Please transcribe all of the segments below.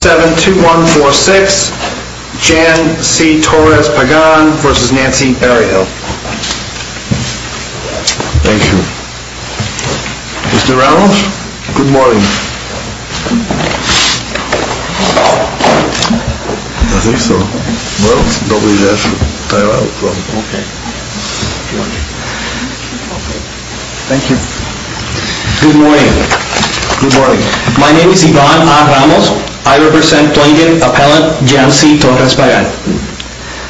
72146 Jan C. Torres-Pagan v. Nancy Berryhill Thank you. Mr. Ramos, good morning. I think so. Well, don't believe that I will, so. Thank you. Good morning. Good morning. My name is Iván Ramos. I represent Plaintiff Appellant Jan C. Torres-Pagan.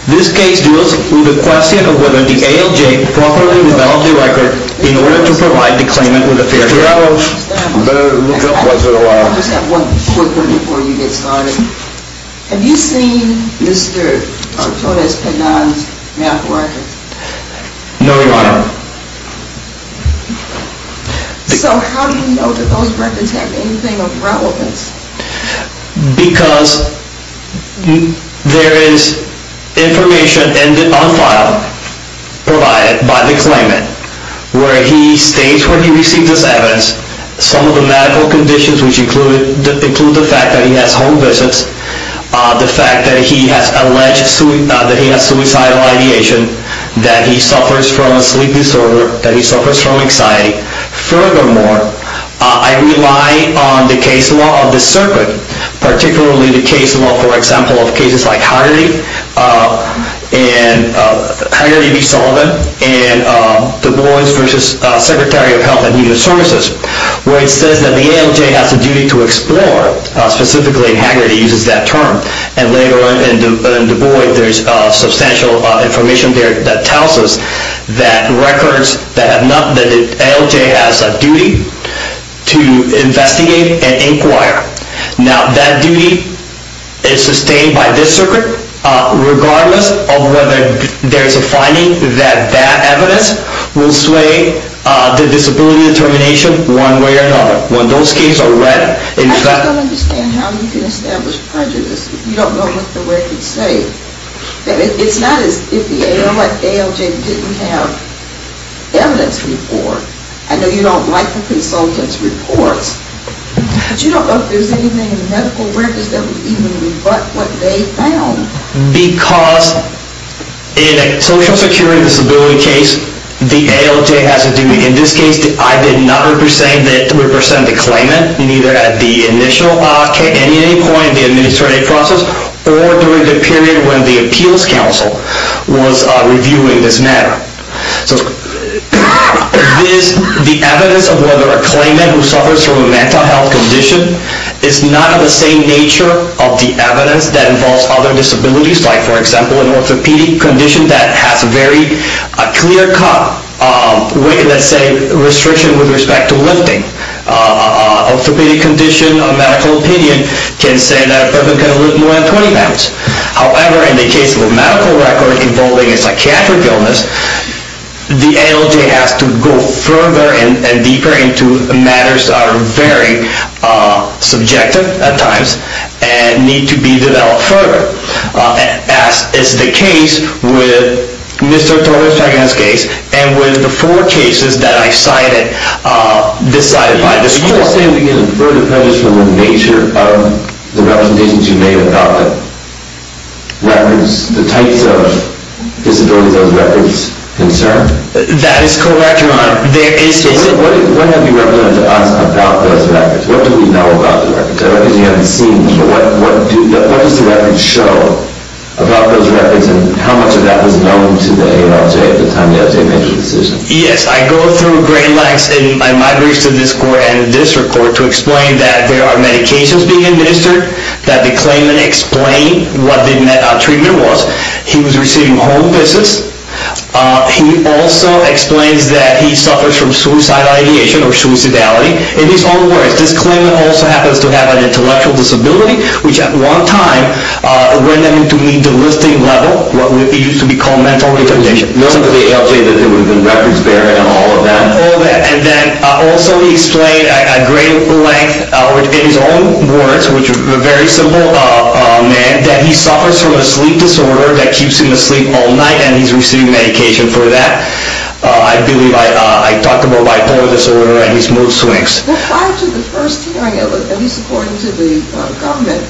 This case deals with the question of whether the ALJ properly developed the record in order to provide the claimant with a fair hearing. I just have one quick one before you get started. Have you seen Mr. Torres-Pagan's math work? No, Your Honor. So how do you know that those records have anything of relevance? Because there is information on file provided by the claimant where he states where he received this evidence, some of the medical conditions which include the fact that he has home visits, the fact that he has alleged that he has suicidal ideation, that he suffers from a sleep disorder, that he suffers from anxiety. Furthermore, I rely on the case law of the circuit, particularly the case law, for example, of cases like Hagerty v. Sullivan and Du Bois v. Secretary of Health and Human Services, where it says that the ALJ has a duty to explore. Specifically, Hagerty uses that term. And later on in Du Bois, there is substantial information there that tells us that records, that ALJ has a duty to investigate and inquire. Now, that duty is sustained by this circuit regardless of whether there is a finding that that evidence will sway the disability determination one way or another. When those cases are read... I don't understand how you can establish prejudice if you don't know what the records say. It's not as if the ALJ didn't have evidence before. I know you don't like the consultant's reports, but you don't know if there is anything in the medical records that would even rebut what they found. Because in a social security disability case, the ALJ has a duty. In this case, I did not represent the claimant, neither at the initial point in the administrative process or during the period when the appeals council was reviewing this matter. The evidence of whether a claimant who suffers from a mental health condition is not of the same nature of the evidence that involves other disabilities, like, for example, an orthopedic condition that has a very clear cut, let's say, restriction with respect to lifting. An orthopedic condition, a medical opinion, can say that a person can lift more than 20 pounds. However, in the case of a medical record involving a psychiatric illness, the ALJ has to go further and deeper into matters that are very subjective at times and need to be developed further. As is the case with Mr. Tolbert's case and with the four cases that I cited decided by this court. You're saying we can infer the prejudice from the nature of the representations you made about the records, the types of disabilities those records concern? That is correct, Your Honor. What have you represented to us about those records? What do we know about the records? You haven't seen them, but what does the records show about those records and how much of that was known to the ALJ at the time the ALJ made the decision? Yes, I go through great lengths in my briefs to this court and this court to explain that there are medications being administered, that the claimant explained what the treatment was. He was receiving home visits. He also explains that he suffers from suicidal ideation or suicidality. In his own words, this claimant also happens to have an intellectual disability, which at one time led him to meet the listing level, what used to be called mental retardation. You're saying to the ALJ that there would have been records there and all of that? All of that, and then also he explained at great length in his own words, which is a very simple man, that he suffers from a sleep disorder that keeps him asleep all night and he's receiving medication for that. I believe I talked about bipolar disorder and his mood swings. Prior to the first hearing, at least according to the government,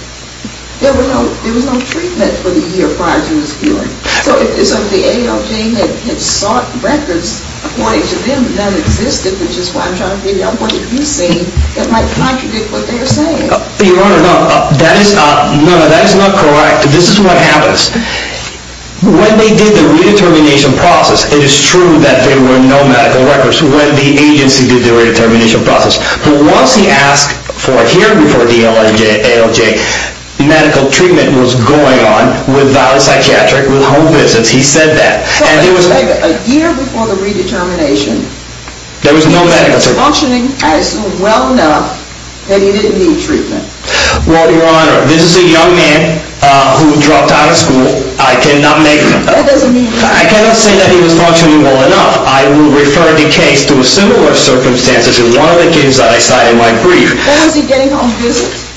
there was no treatment for the year prior to his hearing. So if the ALJ had sought records according to them that existed, which is what I'm trying to figure out, what did you see that might contradict what they're saying? Your Honor, no, that is not correct. This is what happens. When they did the redetermination process, it is true that there were no medical records. When the agency did the redetermination process, once he asked for a hearing before the ALJ, medical treatment was going on without a psychiatric, with home visits. He said that. So a year before the redetermination, he was functioning, I assume, well enough, and he didn't need treatment. Well, Your Honor, this is a young man who dropped out of school. I cannot say that he was functioning well enough. I will refer the case to a similar circumstance as in one of the cases that I cited in my brief. When was he getting home visits?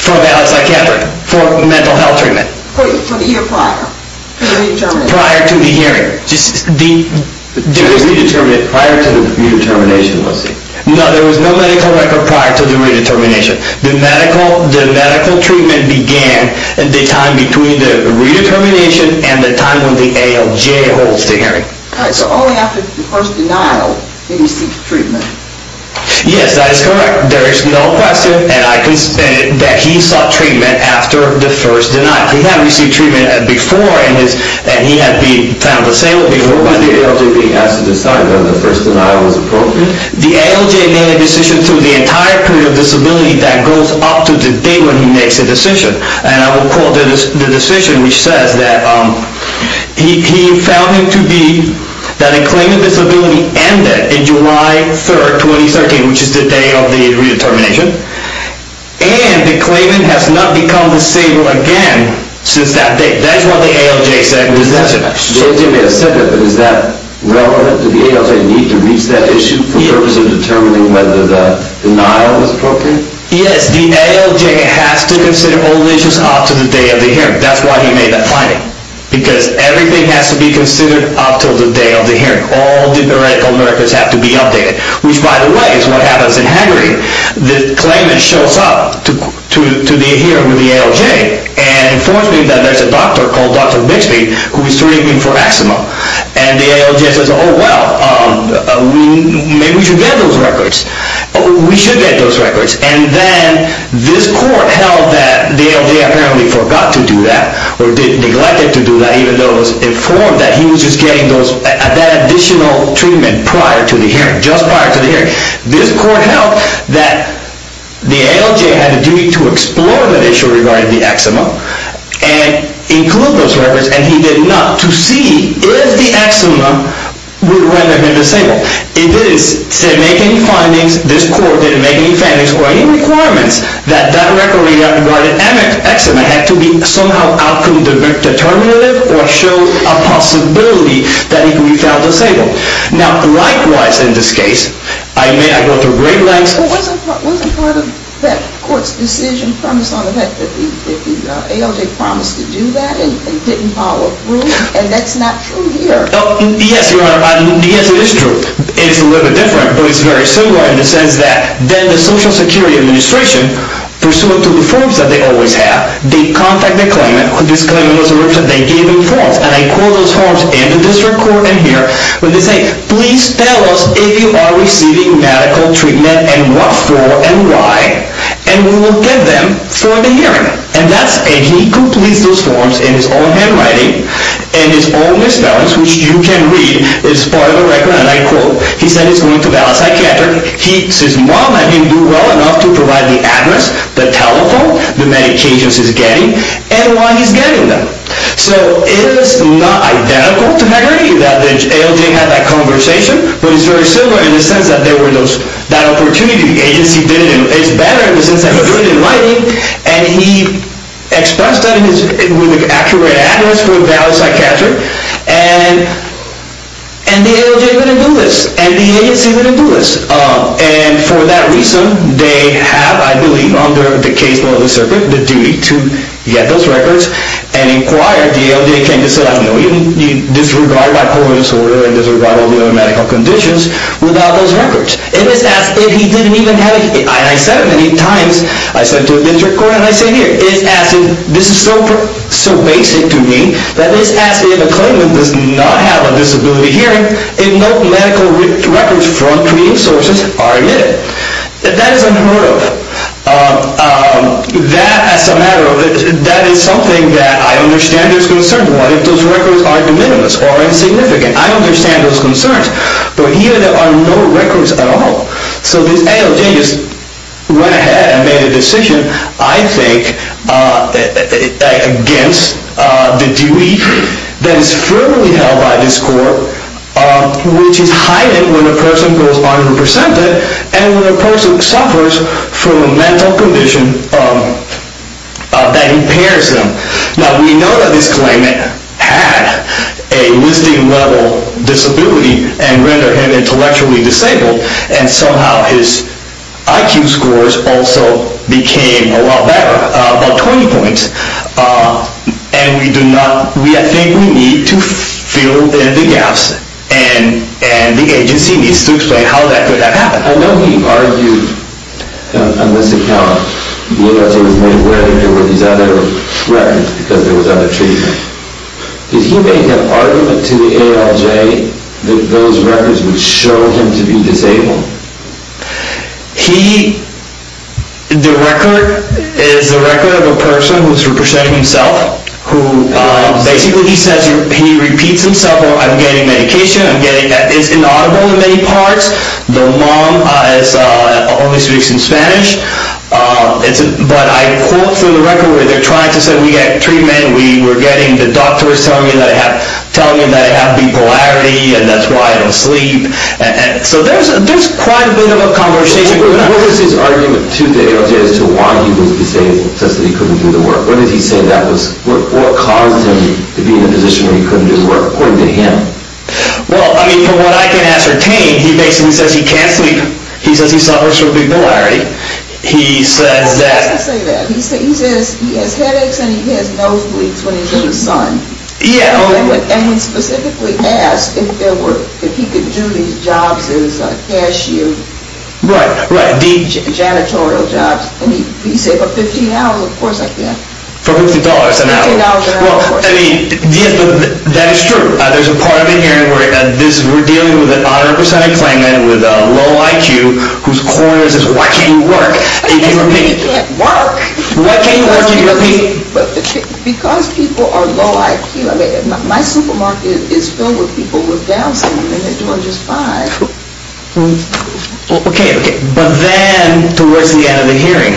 For a psychiatric, for mental health treatment. For the year prior to the redetermination. Prior to the hearing. Prior to the redetermination, let's see. No, there was no medical record prior to the redetermination. The medical treatment began the time between the redetermination and the time when the ALJ holds the hearing. All right. So only after the first denial did he seek treatment. Yes, that is correct. There is no question that he sought treatment after the first denial. He had received treatment before and he had been found disabled before. When was the ALJ being asked to decide whether the first denial was appropriate? The ALJ made a decision through the entire period of disability that goes up to the date when he makes a decision. And I will quote the decision, which says that he found him to be, that a claim of disability ended on July 3rd, 2013, which is the day of the redetermination, and the claimant has not become disabled again since that date. That is what the ALJ said. The ALJ may have said that, but is that relevant? Did the ALJ need to reach that issue for the purpose of determining whether the denial was appropriate? Yes. The ALJ has to consider all issues up to the day of the hearing. That is why he made that finding. Because everything has to be considered up to the day of the hearing. All the medical records have to be updated. Which, by the way, is what happens in Hungary. The claimant shows up to the hearing with the ALJ and informs me that there is a doctor called Dr. Bixby who is treating him for eczema. And the ALJ says, oh, well, maybe we should get those records. We should get those records. And then this court held that the ALJ apparently forgot to do that, or neglected to do that even though it was informed that he was just getting that additional treatment prior to the hearing, just prior to the hearing. This court held that the ALJ had a duty to explore that issue regarding the eczema and include those records, and he did not, to see if the eczema would rather have been disabled. It didn't make any findings. This court didn't make any findings or any requirements that that record regarding eczema had to be somehow outcome determinative or show a possibility that he could be found disabled. Now, likewise in this case, I may go through great lengths. But wasn't part of that court's decision promised on the fact that the ALJ promised to do that and didn't follow through? And that's not true here. Yes, Your Honor. Yes, it is true. It's a little bit different, but it's very similar in the sense that then the Social Security Administration, pursuant to the forms that they always have, they contact the claimant with this claimant was a representative. And I quote those forms in the district court in here where they say, please tell us if you are receiving medical treatment and what for and why, and we will get them for the hearing. And that's it. He completes those forms in his own handwriting and his own misspellings, which you can read as part of the record. And I quote, he said he's going to Dallas Psychiatric. He says, Mom, I didn't do well enough to provide the address, the telephone, the medications he's getting and why he's getting them. So it is not identical to Gregory that the ALJ had that conversation, but it's very similar in the sense that there were those, that opportunity, the agency did it, and it's better in the sense that we're doing it in writing, and he expressed that in his, with an accurate address for Dallas Psychiatric, and the ALJ didn't do this, and the agency didn't do this. And for that reason, they have, I believe, under the case law of the circuit, the duty to get those records and inquire. The ALJ came to say, no, you disregard bipolar disorder and disregard all the other medical conditions without those records. It is as if he didn't even have, and I said it many times, I said to a district court, and I say here, it is as if, this is so basic to me, that it is as if a claimant does not have a disability hearing and no medical records from treating sources are admitted. That is unheard of. That, as a matter of, that is something that I understand is concerned. What if those records are de minimis or insignificant? I understand those concerns, but here there are no records at all. So this ALJ just went ahead and made a decision, I think, against the duty that is firmly held by this court, which is heightened when a person goes unrepresented, and when a person suffers from a mental condition that impairs them. Now, we know that this claimant had a listing-level disability and rendered him intellectually disabled, and somehow his IQ scores also became a lot better, about 20 points, and we do not, I think we need to fill in the gaps, and the agency needs to explain how that could have happened. I know he argued, on this account, the ALJ was made aware that there were these other records because there was other treatment. Did he make an argument to the ALJ that those records would show him to be disabled? He, the record is the record of a person who is representing himself, who basically he says, he repeats himself, I'm getting medication, I'm getting, it's inaudible in many parts, the mom only speaks in Spanish, but I quote from the record where they're trying to say we get treatment, we're getting, the doctor is telling me that I have bipolarity, and that's why I don't sleep, so there's quite a bit of a conversation going on. What was his argument to the ALJ as to why he was disabled, what did he say that was, what caused him to be in a position where he couldn't do the work, according to him? Well, I mean, from what I can ascertain, he basically says he can't sleep, he says he suffers from bipolarity, he says that, He doesn't say that, he says he has headaches and he has no sleep when he's in the sun, and he specifically asked if there were, if he could do these jobs as cashier, Right, right, janitorial jobs, and he said for $50 an hour, of course I can. For $50 an hour? $50 an hour, of course. Well, I mean, that is true, there's a part of the hearing where this, we're dealing with an underrepresented claimant with a low IQ, whose core is this, why can't you work? He can't work. Why can't you work, you repeat? Because people are low IQ, I mean, my supermarket is filled with people with Down syndrome, and they're doing just fine. Okay, okay. But then, towards the end of the hearing,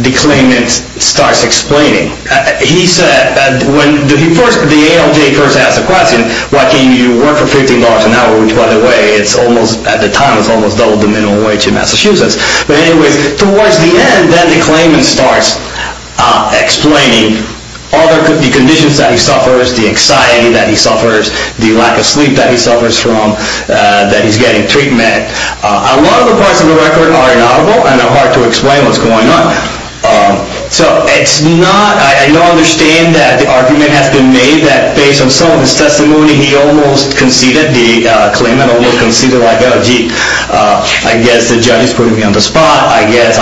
the claimant starts explaining. He said, when he first, the ALJ first asked the question, why can't you work for $50 an hour, which by the way, it's almost, at the time, it's almost double the minimum wage in Massachusetts. But anyways, towards the end, then the claimant starts explaining all the conditions that he suffers, the anxiety that he suffers, the lack of sleep that he suffers from, that he's getting treatment. A lot of the parts of the record are inaudible and are hard to explain what's going on. So it's not, I don't understand that the argument has been made that, based on some of his testimony, he almost conceded, the claimant almost conceded, like, oh, gee, I guess the judge is putting me on the spot, I guess.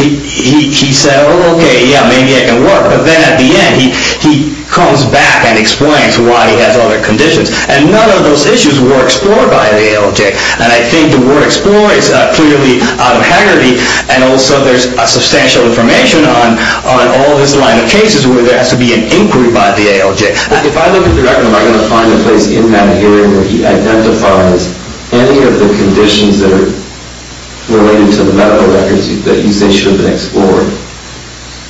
He said, oh, okay, yeah, maybe I can work. But then at the end, he comes back and explains why he has other conditions. And none of those issues were explored by the ALJ. And I think the word explore is clearly out of heredity. And also, there's substantial information on all his line of cases where there has to be an inquiry by the ALJ. If I look at the record, am I going to find a place in that hearing where he identifies any of the conditions that are related to the medical records that you say should have been explored?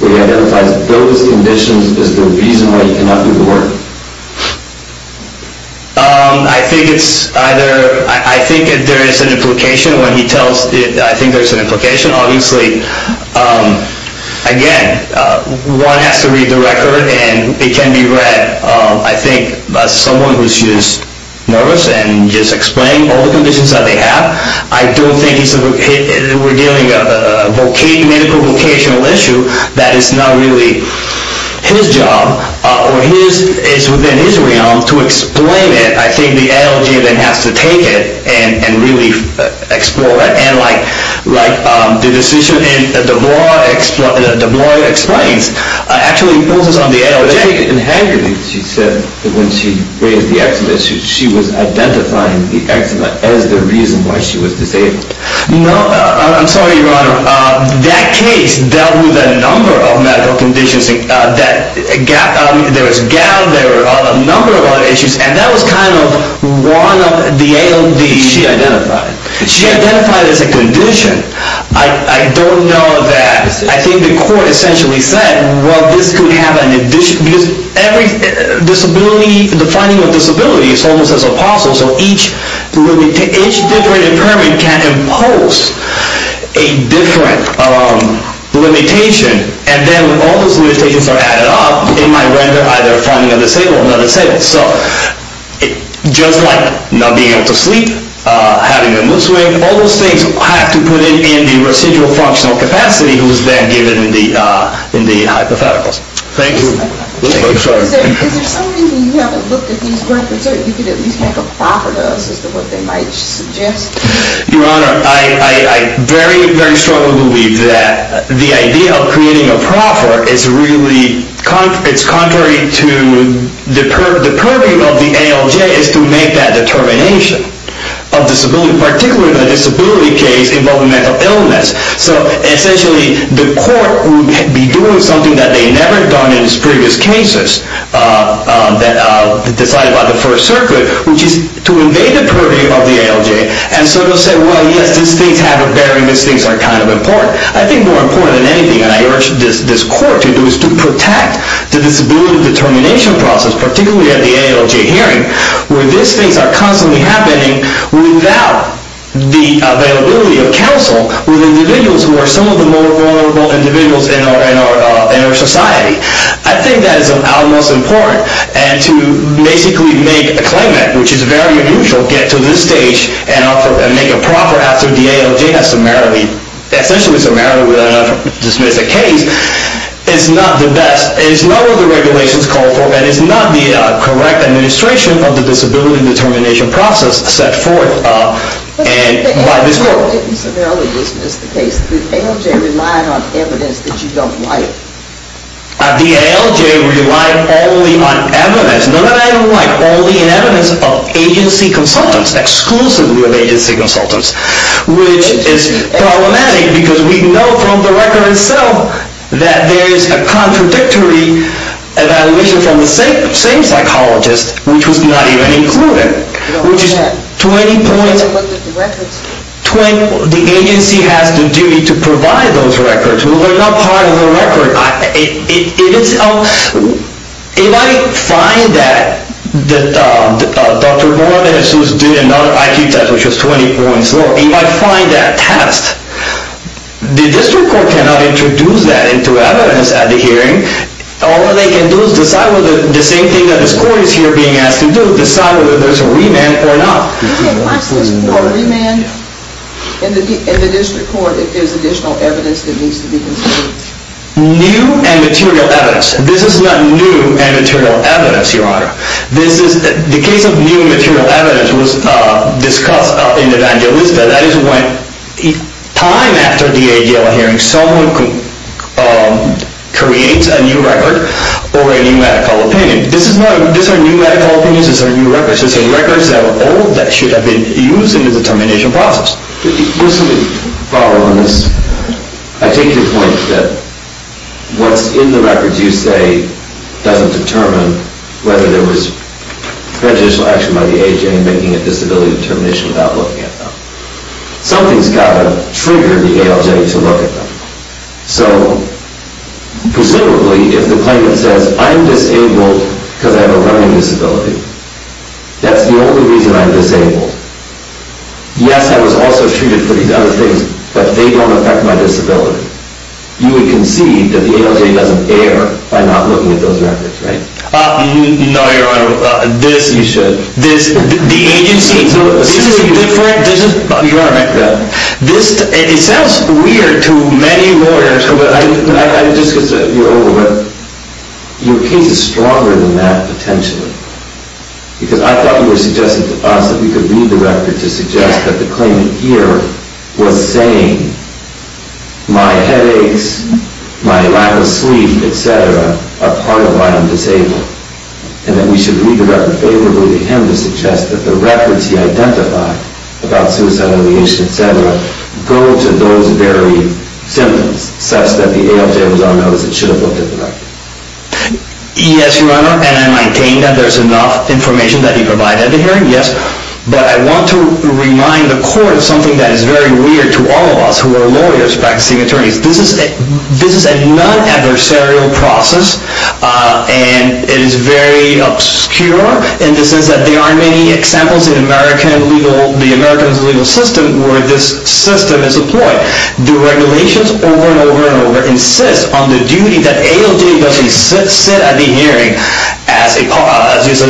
Where he identifies those conditions as the reason why he cannot do the work? I think it's either, I think there is an implication when he tells, I think there's an implication. Obviously, again, one has to read the record, and it can be read, I think, by someone who's just nervous and just explaining all the conditions that they have. I don't think we're dealing with a medical vocational issue that is not really his job or is within his realm to explain it. I think the ALJ then has to take it and really explore it. And like the decision that DeBlois explains actually imposes on the ALJ. In Hagerty, she said that when she raised the eczema, she was identifying the eczema as the reason why she was disabled. No, I'm sorry, Your Honor. That case dealt with a number of medical conditions. There was gout. There were a number of other issues. And that was kind of one of the ALJ's. She identified. She identified as a condition. I don't know that. I think the court essentially said, well, this could have an addition. Because the finding of disability is almost as impossible. So each different impairment can impose a different limitation. And then when all those limitations are added up, it might render either finding a disabled or not disabled. So just like not being able to sleep, having a mood swing, all those things have to put in the residual functional capacity that was then given in the hypotheticals. Thank you. Is there some reason you haven't looked at these records or you could at least make a proffer to us as to what they might suggest? Your Honor, I very, very strongly believe that the idea of creating a proffer is really contrary to the purview of the ALJ is to make that determination of disability, in particular the disability case involving mental illness. So essentially the court would be doing something that they never have done in its previous cases decided by the First Circuit, which is to invade the purview of the ALJ and sort of say, well, yes, these things have a bearing. These things are kind of important. I think more important than anything, and I urge this court to do, is to protect the disability determination process, particularly at the ALJ hearing, where these things are constantly happening without the availability of counsel with individuals who are some of the most vulnerable individuals in our society. I think that is of utmost importance. And to basically make a claimant, which is very unusual, get to this stage and make a proffer after the ALJ has summarily, essentially summarily dismissed the case, is not the best. It is not what the regulations call for and is not the correct administration of the disability determination process set forth by this court. But the ALJ didn't summarily dismiss the case. The ALJ relied on evidence that you don't like. The ALJ relied only on evidence. None of that I don't like. Only on evidence of agency consultants, exclusively of agency consultants, which is problematic because we know from the record itself that there is a contradictory evaluation from the same psychologist, which was not even included, which is 20 points. The agency has the duty to provide those records. They are not part of the record. If I find that Dr. Morales, who did another IQ test, which was 20 points lower, if I find that test, the district court cannot introduce that into evidence at the hearing. All they can do is decide whether, the same thing that this court is here being asked to do, decide whether there's a remand or not. You can't pass this for a remand in the district court if there's additional evidence that needs to be considered. New and material evidence. This is not new and material evidence, Your Honor. The case of new and material evidence was discussed in the evangelista. That is when, time after the AGL hearing, someone creates a new record or a new medical opinion. These are new medical opinions. These are new records. These are records that are old that should have been used in the determination process. Let me follow on this. I take your point that what's in the records, you say, doesn't determine whether there was prejudicial action by the AGL in making a disability determination without looking at them. Something's got to trigger the ALJ to look at them. So, presumably, if the claimant says, I'm disabled because I have a learning disability, that's the only reason I'm disabled. Yes, I was also treated for these other things, but they don't affect my disability. You would concede that the ALJ doesn't err by not looking at those records, right? No, Your Honor. You should. The agency... Your Honor, it sounds weird to many lawyers... Just because you're older, but your case is stronger than that, potentially. Because I thought you were suggesting to us that we could read the record to suggest that the claimant here was saying, my headaches, my lack of sleep, etc., are part of why I'm disabled, and that we should read the record favorably to him to suggest that the records he identified about suicide, and the issue, etc., go to those very symptoms, such that the ALJ was on notice and should have looked at the record. Yes, Your Honor, and I maintain that there's enough information that he provided here, yes. But I want to remind the Court of something that is very weird to all of us who are lawyers practicing attorneys. This is a non-adversarial process, and it is very obscure in the sense that there aren't many examples in the American legal system where this system is employed. The regulations over and over and over insist on the duty that ALJ doesn't sit at the hearing as an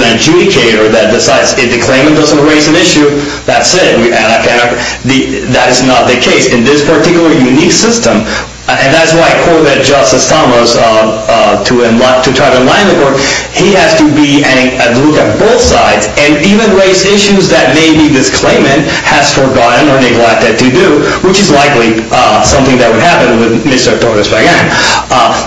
adjudicator that decides if the claimant doesn't raise an issue, that's it. That is not the case in this particular unique system. And that's why I quoted Justice Thomas to try to enlighten the Court. He has to look at both sides, and even raise issues that maybe this claimant has forgotten or neglected to do, which is likely something that would happen with Mr. Torres-McGann.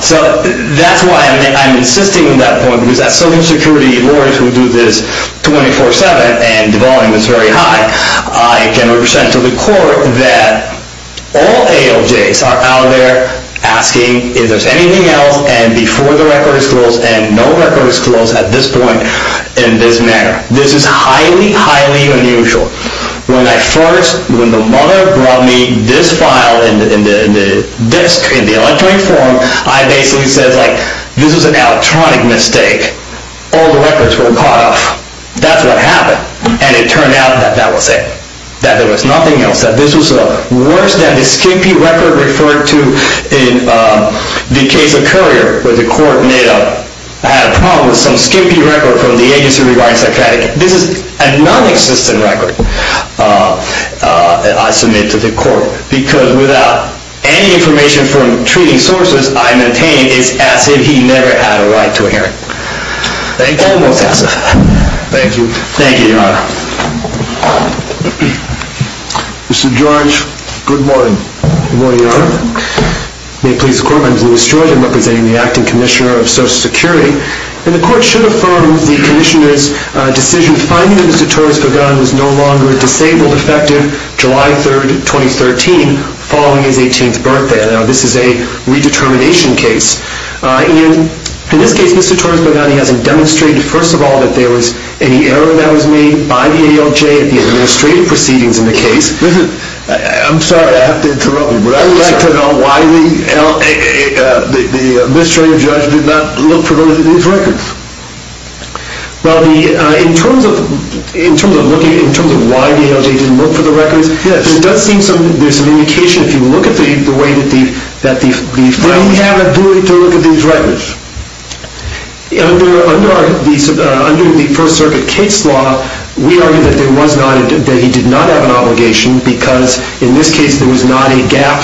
So that's why I'm insisting on that point, because as civil security lawyers who do this 24-7 and the volume is very high, I can represent to the Court that all ALJs are out there asking if there's anything else, and before the record is closed, and no record is closed at this point in this manner. This is highly, highly unusual. When the mother brought me this file in the electronic form, I basically said, like, this is an electronic mistake. All the records were cut off. That's what happened, and it turned out that that was it, that there was nothing else. This was worse than the skimpy record referred to in the case of Currier, where the Court had a problem with some skimpy record from the agency regarding psychotic. This is a nonexistent record that I submit to the Court, because without any information from treating sources, I maintain it's as if he never had a right to a hearing. Thank you. Thank you, Your Honor. Mr. George, good morning. Good morning, Your Honor. May it please the Court, my name is Louis George. I'm representing the Acting Commissioner of Social Security, and the Court should affirm the Commissioner's decision finding that Mr. Torres-Bagani was no longer disabled effective July 3rd, 2013, following his 18th birthday. Now, this is a redetermination case. In this case, Mr. Torres-Bagani hasn't demonstrated, first of all, that there was any error that was made by the ALJ in the administrative proceedings in the case. I'm sorry to have to interrupt you, but I would like to know why the administrative judge did not look for those records. Well, in terms of why the ALJ didn't look for the records, it does seem there's some indication, if you look at the way that the... Did he have a duty to look at these records? Under the First Circuit case law, we argue that there was not, that he did not have an obligation, because in this case there was not a gap,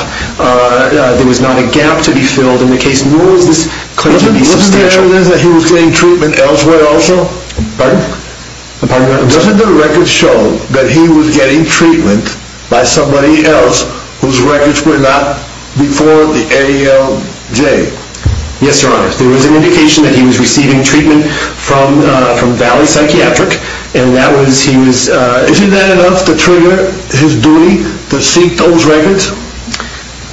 there was not a gap to be filled in the case. Nor is this claim to be substantial. Wasn't there evidence that he was getting treatment elsewhere also? Pardon? Doesn't the record show that he was getting treatment by somebody else whose records were not before the ALJ? Yes, Your Honor. There was an indication that he was receiving treatment from Valley Psychiatric, and that was... Isn't that enough to trigger his duty to seek those records?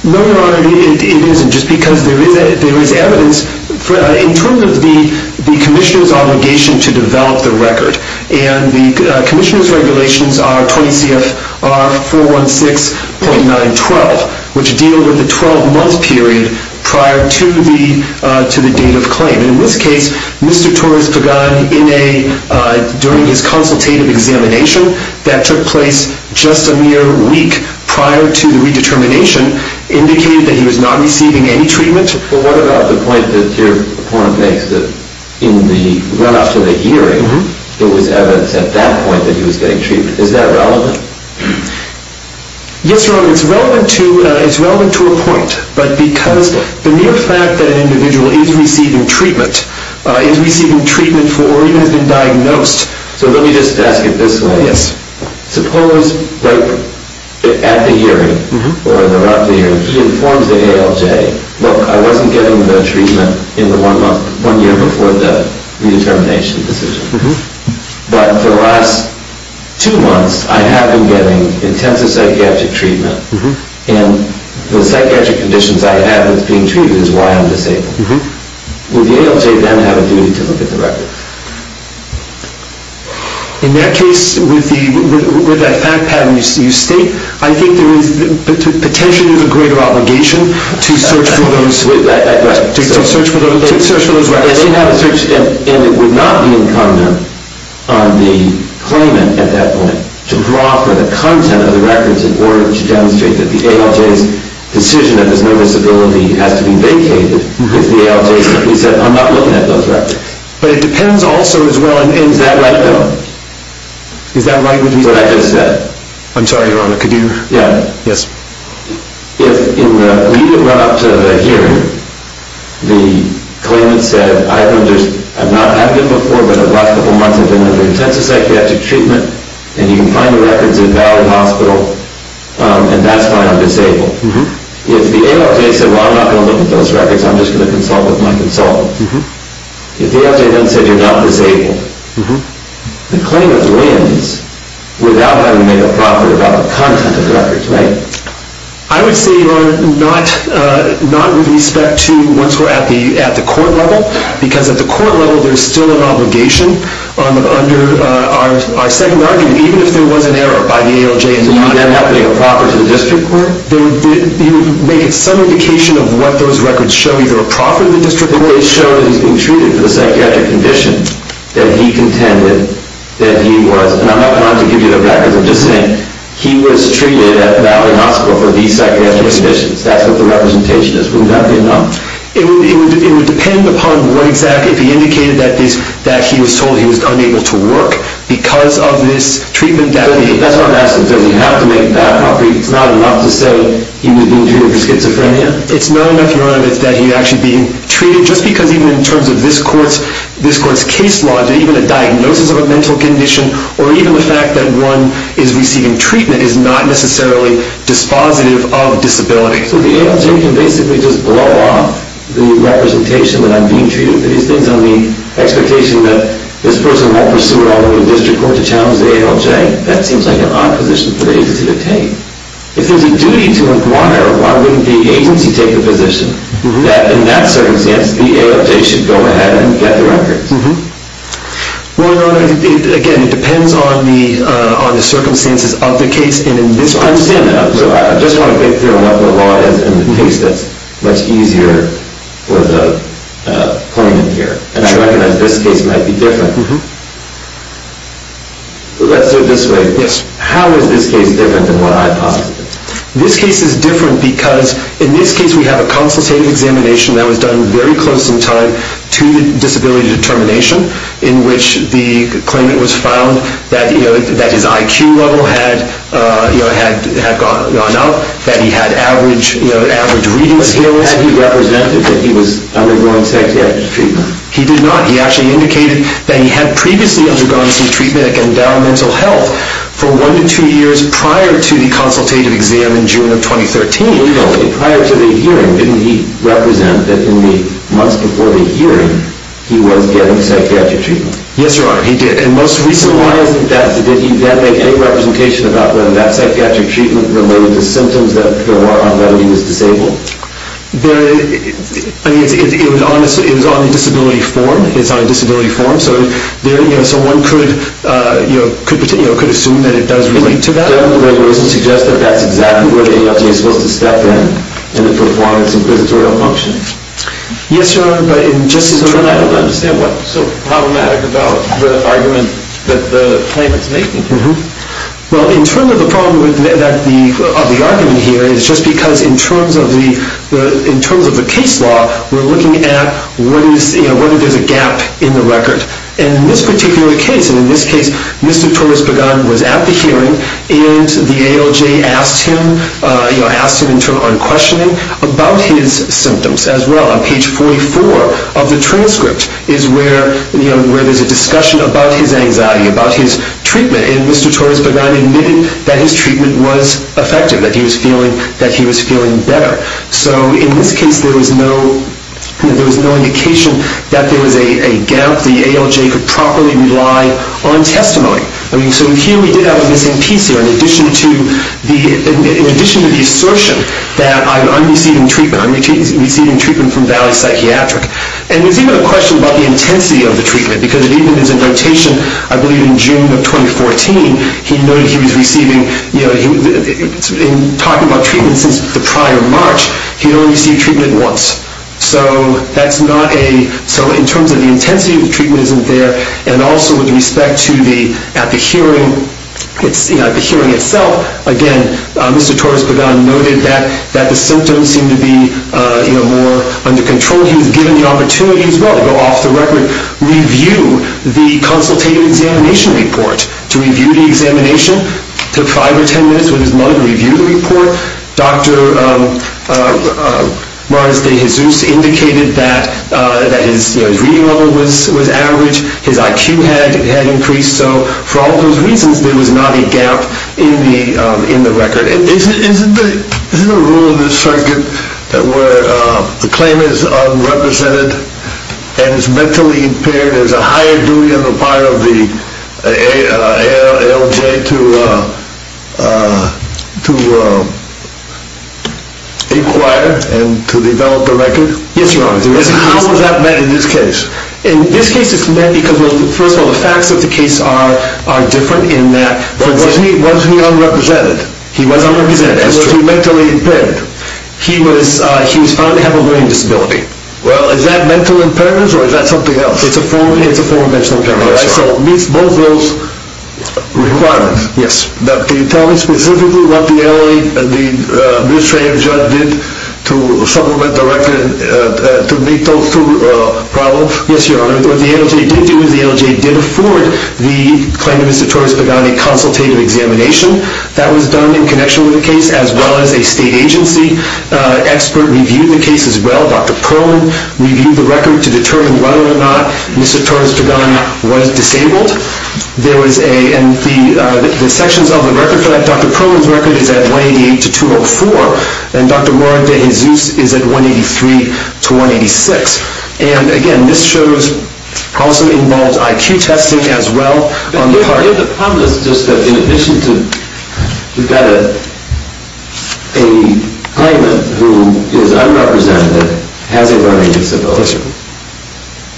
No, Your Honor, it isn't. Just because there is evidence, in terms of the commissioner's obligation to develop the record, and the commissioner's regulations are 20 CFR 416.912, which deal with the 12-month period prior to the date of claim. And in this case, Mr. Torres-Pagan, during his consultative examination that took place just a mere week prior to the redetermination, indicated that he was not receiving any treatment. But what about the point that your opponent makes, that in the run-up to the hearing, there was evidence at that point that he was getting treatment. Is that relevant? Yes, Your Honor, it's relevant to a point. But because the mere fact that an individual is receiving treatment, is receiving treatment for, or even has been diagnosed... So let me just ask it this way. Yes. Suppose, like, at the hearing, or in the run-up to the hearing, he informs the ALJ, look, I wasn't getting the treatment in the one month, one year before the redetermination decision. But for the last two months, I have been getting intensive psychiatric treatment, and the psychiatric conditions I have that's being treated is why I'm disabled. Would the ALJ then have a duty to look at the record? In that case, with the fact pattern you state, I think there is potentially a greater obligation to search for those records. And it would not be incumbent on the claimant at that point to proffer the content of the records in order to demonstrate that the ALJ's decision that there's no disability has to be vacated if the ALJ simply said, I'm not looking at those records. But it depends also as well on... Is that right, though? Is that right? I'm sorry, Your Honor, could you... Yes. If in the lead-up to the hearing, the claimant said, I've been before, but the last couple of months I've been under intensive psychiatric treatment, and you can find the records in Valley Hospital, and that's why I'm disabled. If the ALJ said, well, I'm not going to look at those records, I'm just going to consult with my consultant. If the ALJ then said you're not disabled, the claimant wins without having made a proffer about the content of the records, right? I would say, Your Honor, not with respect to... Once we're at the court level, because at the court level there's still an obligation under our second argument, even if there was an error by the ALJ... You would then have to make a proffer to the district court? You would make it some indication of what those records show, either a proffer to the district court... They show that he's been treated for the psychiatric condition that he contended that he was. And I'm not trying to give you the records. I'm just saying he was treated at Valley Hospital for these psychiatric conditions. That's what the representation is. It would depend upon what exactly... If he indicated that he was told he was unable to work because of this treatment that he... That's what I'm asking. Does he have to make that proffer? It's not enough to say he was being treated for schizophrenia? It's not enough, Your Honor, that he was actually being treated, just because even in terms of this court's case law, even a diagnosis of a mental condition or even the fact that one is receiving treatment is not necessarily dispositive of disability. So the ALJ can basically just blow off the representation that I'm being treated for these things on the expectation that this person won't pursue it all the way to the district court to challenge the ALJ? That seems like an odd position for the agency to take. If there's a duty to inquire, why wouldn't the agency take the position that in that circumstance the ALJ should go ahead and get the records? Well, Your Honor, again, it depends on the circumstances of the case. I understand that. I just want to get through what the law is in the case that's much easier for the claimant here. And I recognize this case might be different. Let's do it this way. Yes. How is this case different than what I posited? This case is different because in this case we have a consultative examination that was done very close in time to the disability determination in which the claimant was found that his IQ level had gone up, that he had average reading skills. Had he represented that he was undergoing psychiatric treatment? He did not. He actually indicated that he had previously undergone some treatment that can down mental health for one to two years prior to the consultative exam in June of 2013. In any event, prior to the hearing, didn't he represent that in the months before the hearing he was getting psychiatric treatment? Yes, Your Honor, he did. And most recently... So why isn't that... Did he then make any representation about whether that psychiatric treatment related to symptoms that there were on whether he was disabled? It was on the disability form. It's on a disability form. So one could assume that it does relate to that. But that doesn't suggest that that's exactly where the ALJ is supposed to step in in the performance inquisitorial function. Yes, Your Honor, but in just in terms of... I don't understand what's so problematic about the argument that the claimant's making here. Well, in terms of the problem of the argument here is just because in terms of the case law, we're looking at whether there's a gap in the record. And in this particular case, and in this case, Mr. Torres-Baghan was at the hearing, and the ALJ asked him in terms of unquestioning about his symptoms as well. On page 44 of the transcript is where there's a discussion about his anxiety, about his treatment, and Mr. Torres-Baghan admitted that his treatment was effective, that he was feeling better. So in this case, there was no indication that there was a gap. The ALJ could properly rely on testimony. So here we did have a missing piece here, in addition to the assertion that I'm receiving treatment. I'm receiving treatment from Valley Psychiatric. And there's even a question about the intensity of the treatment, because it even is in notation, I believe, in June of 2014, he noted he was receiving... In talking about treatment since the prior March, he'd only received treatment once. So that's not a... So in terms of the intensity of the treatment isn't there, and also with respect to the... At the hearing itself, again, Mr. Torres-Baghan noted that the symptoms seemed to be more under control. He was given the opportunity as well to go off the record, review the consultative examination report. To review the examination, he took 5 or 10 minutes with his mother to review the report. Dr. Mars de Jesus indicated that his reading level was average. His IQ had increased. So for all those reasons, there was not a gap in the record. Isn't the rule of the circuit where the claimant is unrepresented and is mentally impaired, there's a higher duty on the part of the ALJ to inquire and to develop the record? Yes, Your Honor. How was that met in this case? In this case it's met because, first of all, the facts of the case are different in that... Was he unrepresented? He was unrepresented. He was mentally impaired. He was found to have a learning disability. Well, is that mental impairments or is that something else? It's a form of mental impairment. So it meets both those requirements. Yes. Can you tell me specifically what the ALJ, the administrative judge did to supplement the record to meet those two problems? Yes, Your Honor. What the ALJ did do is the ALJ did afford the claimant, Mr. Torres-Pagani, consultative examination. That was done in connection with the case as well as a state agency expert reviewed the case as well. Dr. Perlman reviewed the record to determine whether or not Mr. Torres-Pagani was disabled. There was a... And the sections of the record for that, Dr. Perlman's record is at 188 to 204 and Dr. Mora de Jesus is at 183 to 186. And, again, this shows... Also involves IQ testing as well on the part... The problem is just that in addition to... We've got a claimant who is unrepresented, has a learning disability.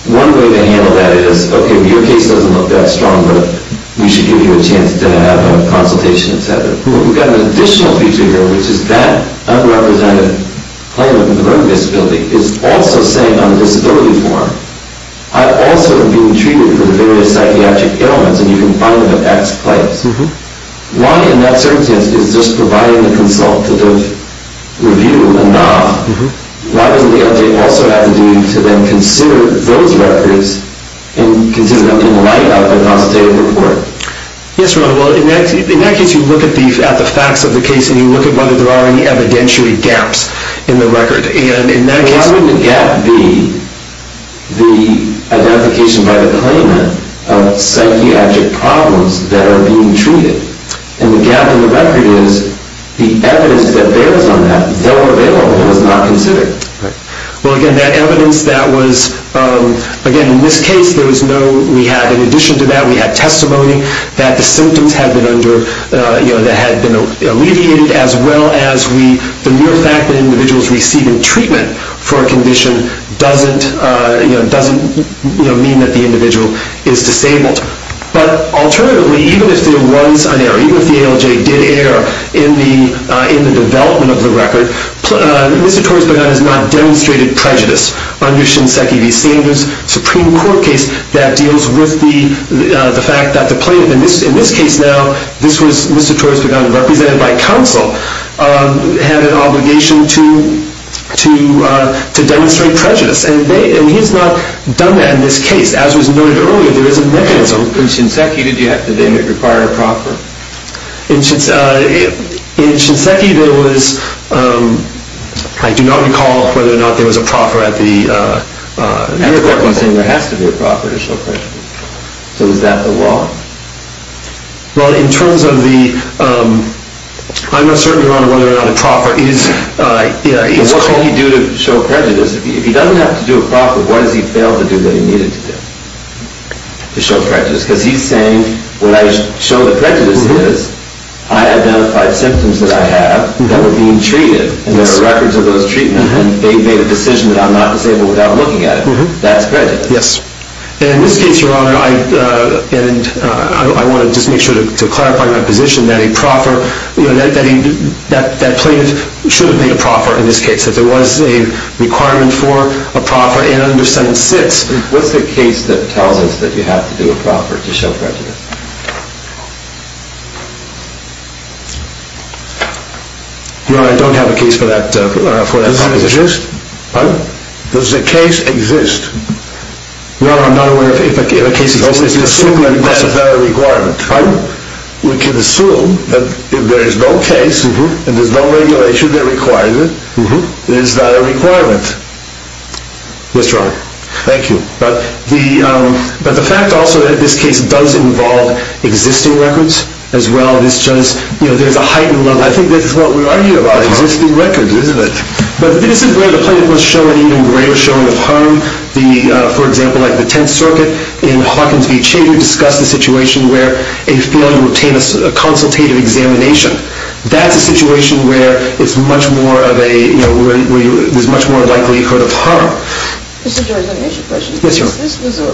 One way to handle that is, OK, your case doesn't look that strong, but we should give you a chance to have a consultation, etc. We've got an additional feature here, which is that unrepresented claimant with a learning disability is also saying on the disability form, I've also been treated for the various psychiatric ailments, and you can find them at X place. Why, in that circumstance, is just providing the consultative review enough? Why doesn't the object also have the duty to then consider those records and consider them in light of the consultative report? Yes, Ron. Well, in that case, you look at the facts of the case and you look at whether there are any evidentiary gaps in the record. And in that case... Well, how would the gap be the identification by the claimant of psychiatric problems that are being treated? And the gap in the record is the evidence that builds on that, though available, is not considered. Right. Well, again, that evidence that was... Again, in this case, there was no... We had, in addition to that, we had testimony that the symptoms had been under... you know, that had been alleviated, as well as the mere fact that individuals receiving treatment for a condition doesn't mean that the individual is disabled. But alternatively, even if there was an error, even if the ALJ did err in the development of the record, Mr. Torres-Bagana has not demonstrated prejudice under Shinseki v. Sanders' Supreme Court case that deals with the fact that the claimant... In this case, now, this was Mr. Torres-Bagana, represented by counsel, had an obligation to demonstrate prejudice. And he has not done that in this case. As was noted earlier, there is a mechanism... In Shinseki, did they require a proffer? In Shinseki, there was... I do not recall whether or not there was a proffer at the court. You're saying there has to be a proffer to show prejudice. So is that the law? Well, in terms of the... I'm not certain, Your Honor, whether or not a proffer is called... What can he do to show prejudice? If he doesn't have to do a proffer, what has he failed to do that he needed to do to show prejudice? Because he's saying, what I show the prejudice is, I identified symptoms that I have that were being treated, and there are records of those treatments, and they made a decision that I'm not disabled without looking at it. That's prejudice. Yes. And in this case, Your Honor, I want to just make sure to clarify my position that a proffer... That claimant should have made a proffer in this case. That there was a requirement for a proffer in under section 6. What's the case that tells us that you have to do a proffer to show prejudice? Your Honor, I don't have a case for that. Does it exist? Pardon? Does the case exist? Your Honor, I'm not aware if a case exists. We can assume that that's a better requirement. Pardon? We can assume that if there is no case, and there's no regulation that requires it, it is not a requirement. Yes, Your Honor. Thank you. But the fact also that this case does involve existing records as well, there's a heightened level... I think this is what we're arguing about, existing records, isn't it? But this is where the claimant was shown an even greater showing of harm. For example, the Tenth Circuit in Hawkins v. Chader discussed a situation where a failure to obtain a consultative examination. That's a situation where it's much more of a... where it's much more likely you heard of harm. Mr. Judge, let me ask you a question. Yes, Your Honor. This was a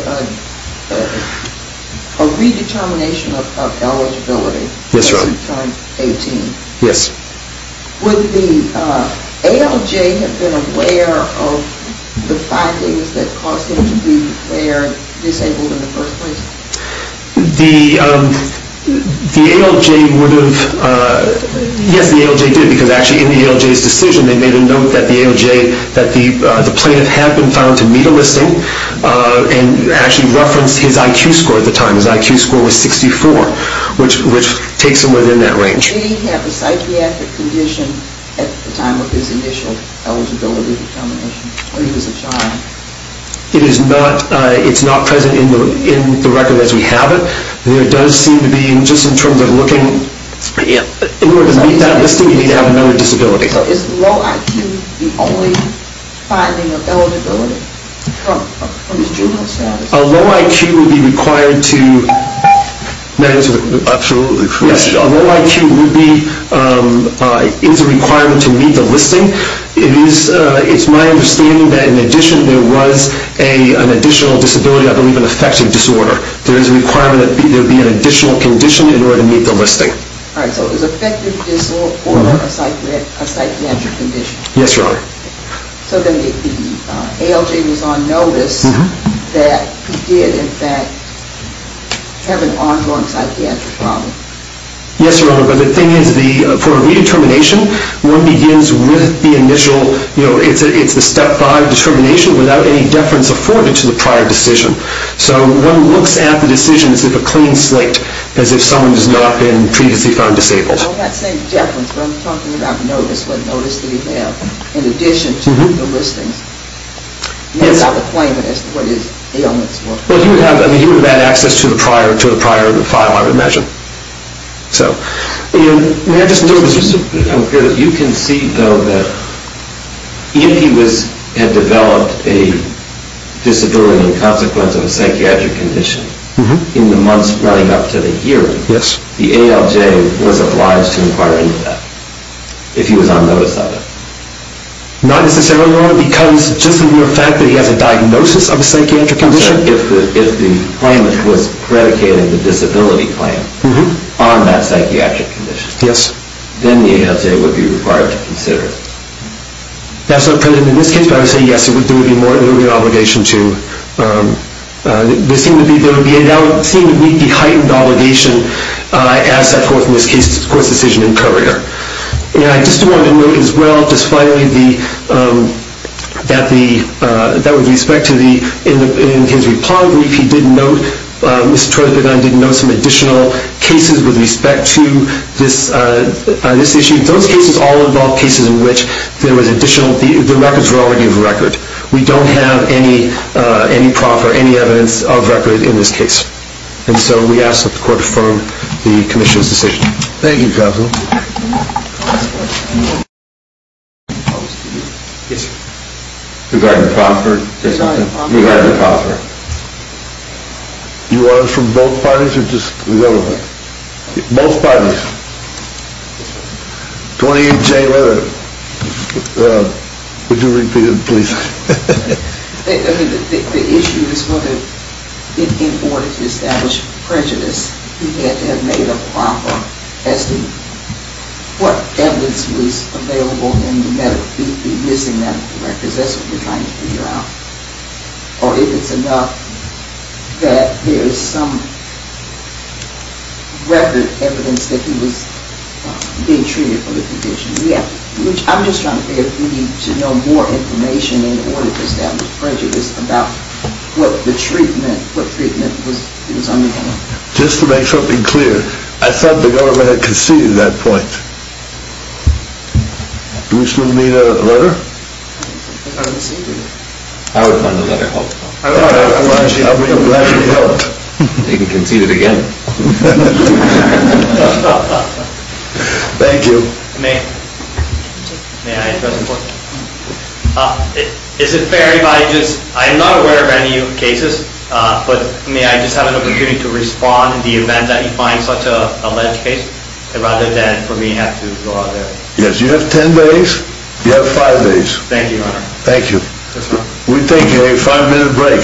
redetermination of eligibility... Yes, Your Honor. ...as it turned 18. Yes. Would the ALJ have been aware of the findings that caused him to be declared disabled in the first place? The ALJ would have... Yes, the ALJ did, because actually in the ALJ's decision, they made a note that the ALJ... that the plaintiff had been found to meet a listing and actually referenced his IQ score at the time. His IQ score was 64, which takes him within that range. Did he have a psychiatric condition at the time of his initial eligibility determination, when he was a child? It is not... It's not present in the record as we have it. There does seem to be, just in terms of looking... In order to meet that listing, you need to have another disability. Is low IQ the only finding of eligibility from his juvenile status? A low IQ would be required to... May I answer the question? Absolutely. Yes, a low IQ would be... is a requirement to meet the listing. It's my understanding that in addition, there was an additional disability, I believe an affective disorder. There is a requirement that there be an additional condition in order to meet the listing. All right, so is affective disorder a psychiatric condition? Yes, Your Honor. So then the ALJ was on notice that he did, in fact, have an ongoing psychiatric problem. Yes, Your Honor, but the thing is, for a redetermination, one begins with the initial, you know, it's the step five determination without any deference afforded to the prior decision. So one looks at the decision as if a clean slate, as if someone has not been previously found disabled. I'm not saying deference, but I'm talking about notice. What notice did he have in addition to the listings? Not without the claimant as to what his ailments were. Well, he would have had access to the prior file, I would imagine. So... You can see, though, that if he had developed a disability in consequence of a psychiatric condition in the months running up to the hearing, the ALJ was obliged to inquire into that if he was on notice of it. Not necessarily, Your Honor, because just the mere fact that he has a diagnosis of a psychiatric condition? If the claimant was predicating the disability claim on that psychiatric condition... Yes. ...then the ALJ would be required to consider it. That's not predicated in this case, but I would say, yes, there would be an obligation to... There would seem to be a heightened obligation as that court's decision in courier. And I just wanted to note as well, just finally, that with respect to the... In his reply brief, he did note... Mr. Trelepin and I did note some additional cases with respect to this issue. Those cases all involve cases in which there was additional... The records were already of record. We don't have any proper... any evidence of record in this case. Thank you, counsel. Yes, sir. Regarding Proffert? Regarding Proffert? Regarding Proffert. You want it from both parties or just the other way? Both parties. Yes, sir. 28-J, whether... Would you repeat it, please? I mean, the issue is whether, in order to establish prejudice, we had to have made a proper testing. What evidence was available in the medical... He's missing medical records. That's what we're trying to figure out. Or if it's enough that there is some record evidence that he was being treated for the condition. Yeah. I'm just trying to figure if we need to know more information in order to establish prejudice about what treatment he was undergoing. Just to make something clear, I thought the government had conceded that point. Do we still need a letter? I conceded it. I would find a letter helpful. I'm glad you helped. They can concede it again. Thank you. May I address a point? Is it fair if I just... I'm not aware of any new cases, but may I just have an opportunity to respond in the event that you find such a alleged case, rather than for me to have to go out there? Yes, you have ten days. You have five days. Thank you, Your Honor. Thank you. We take a five-minute break.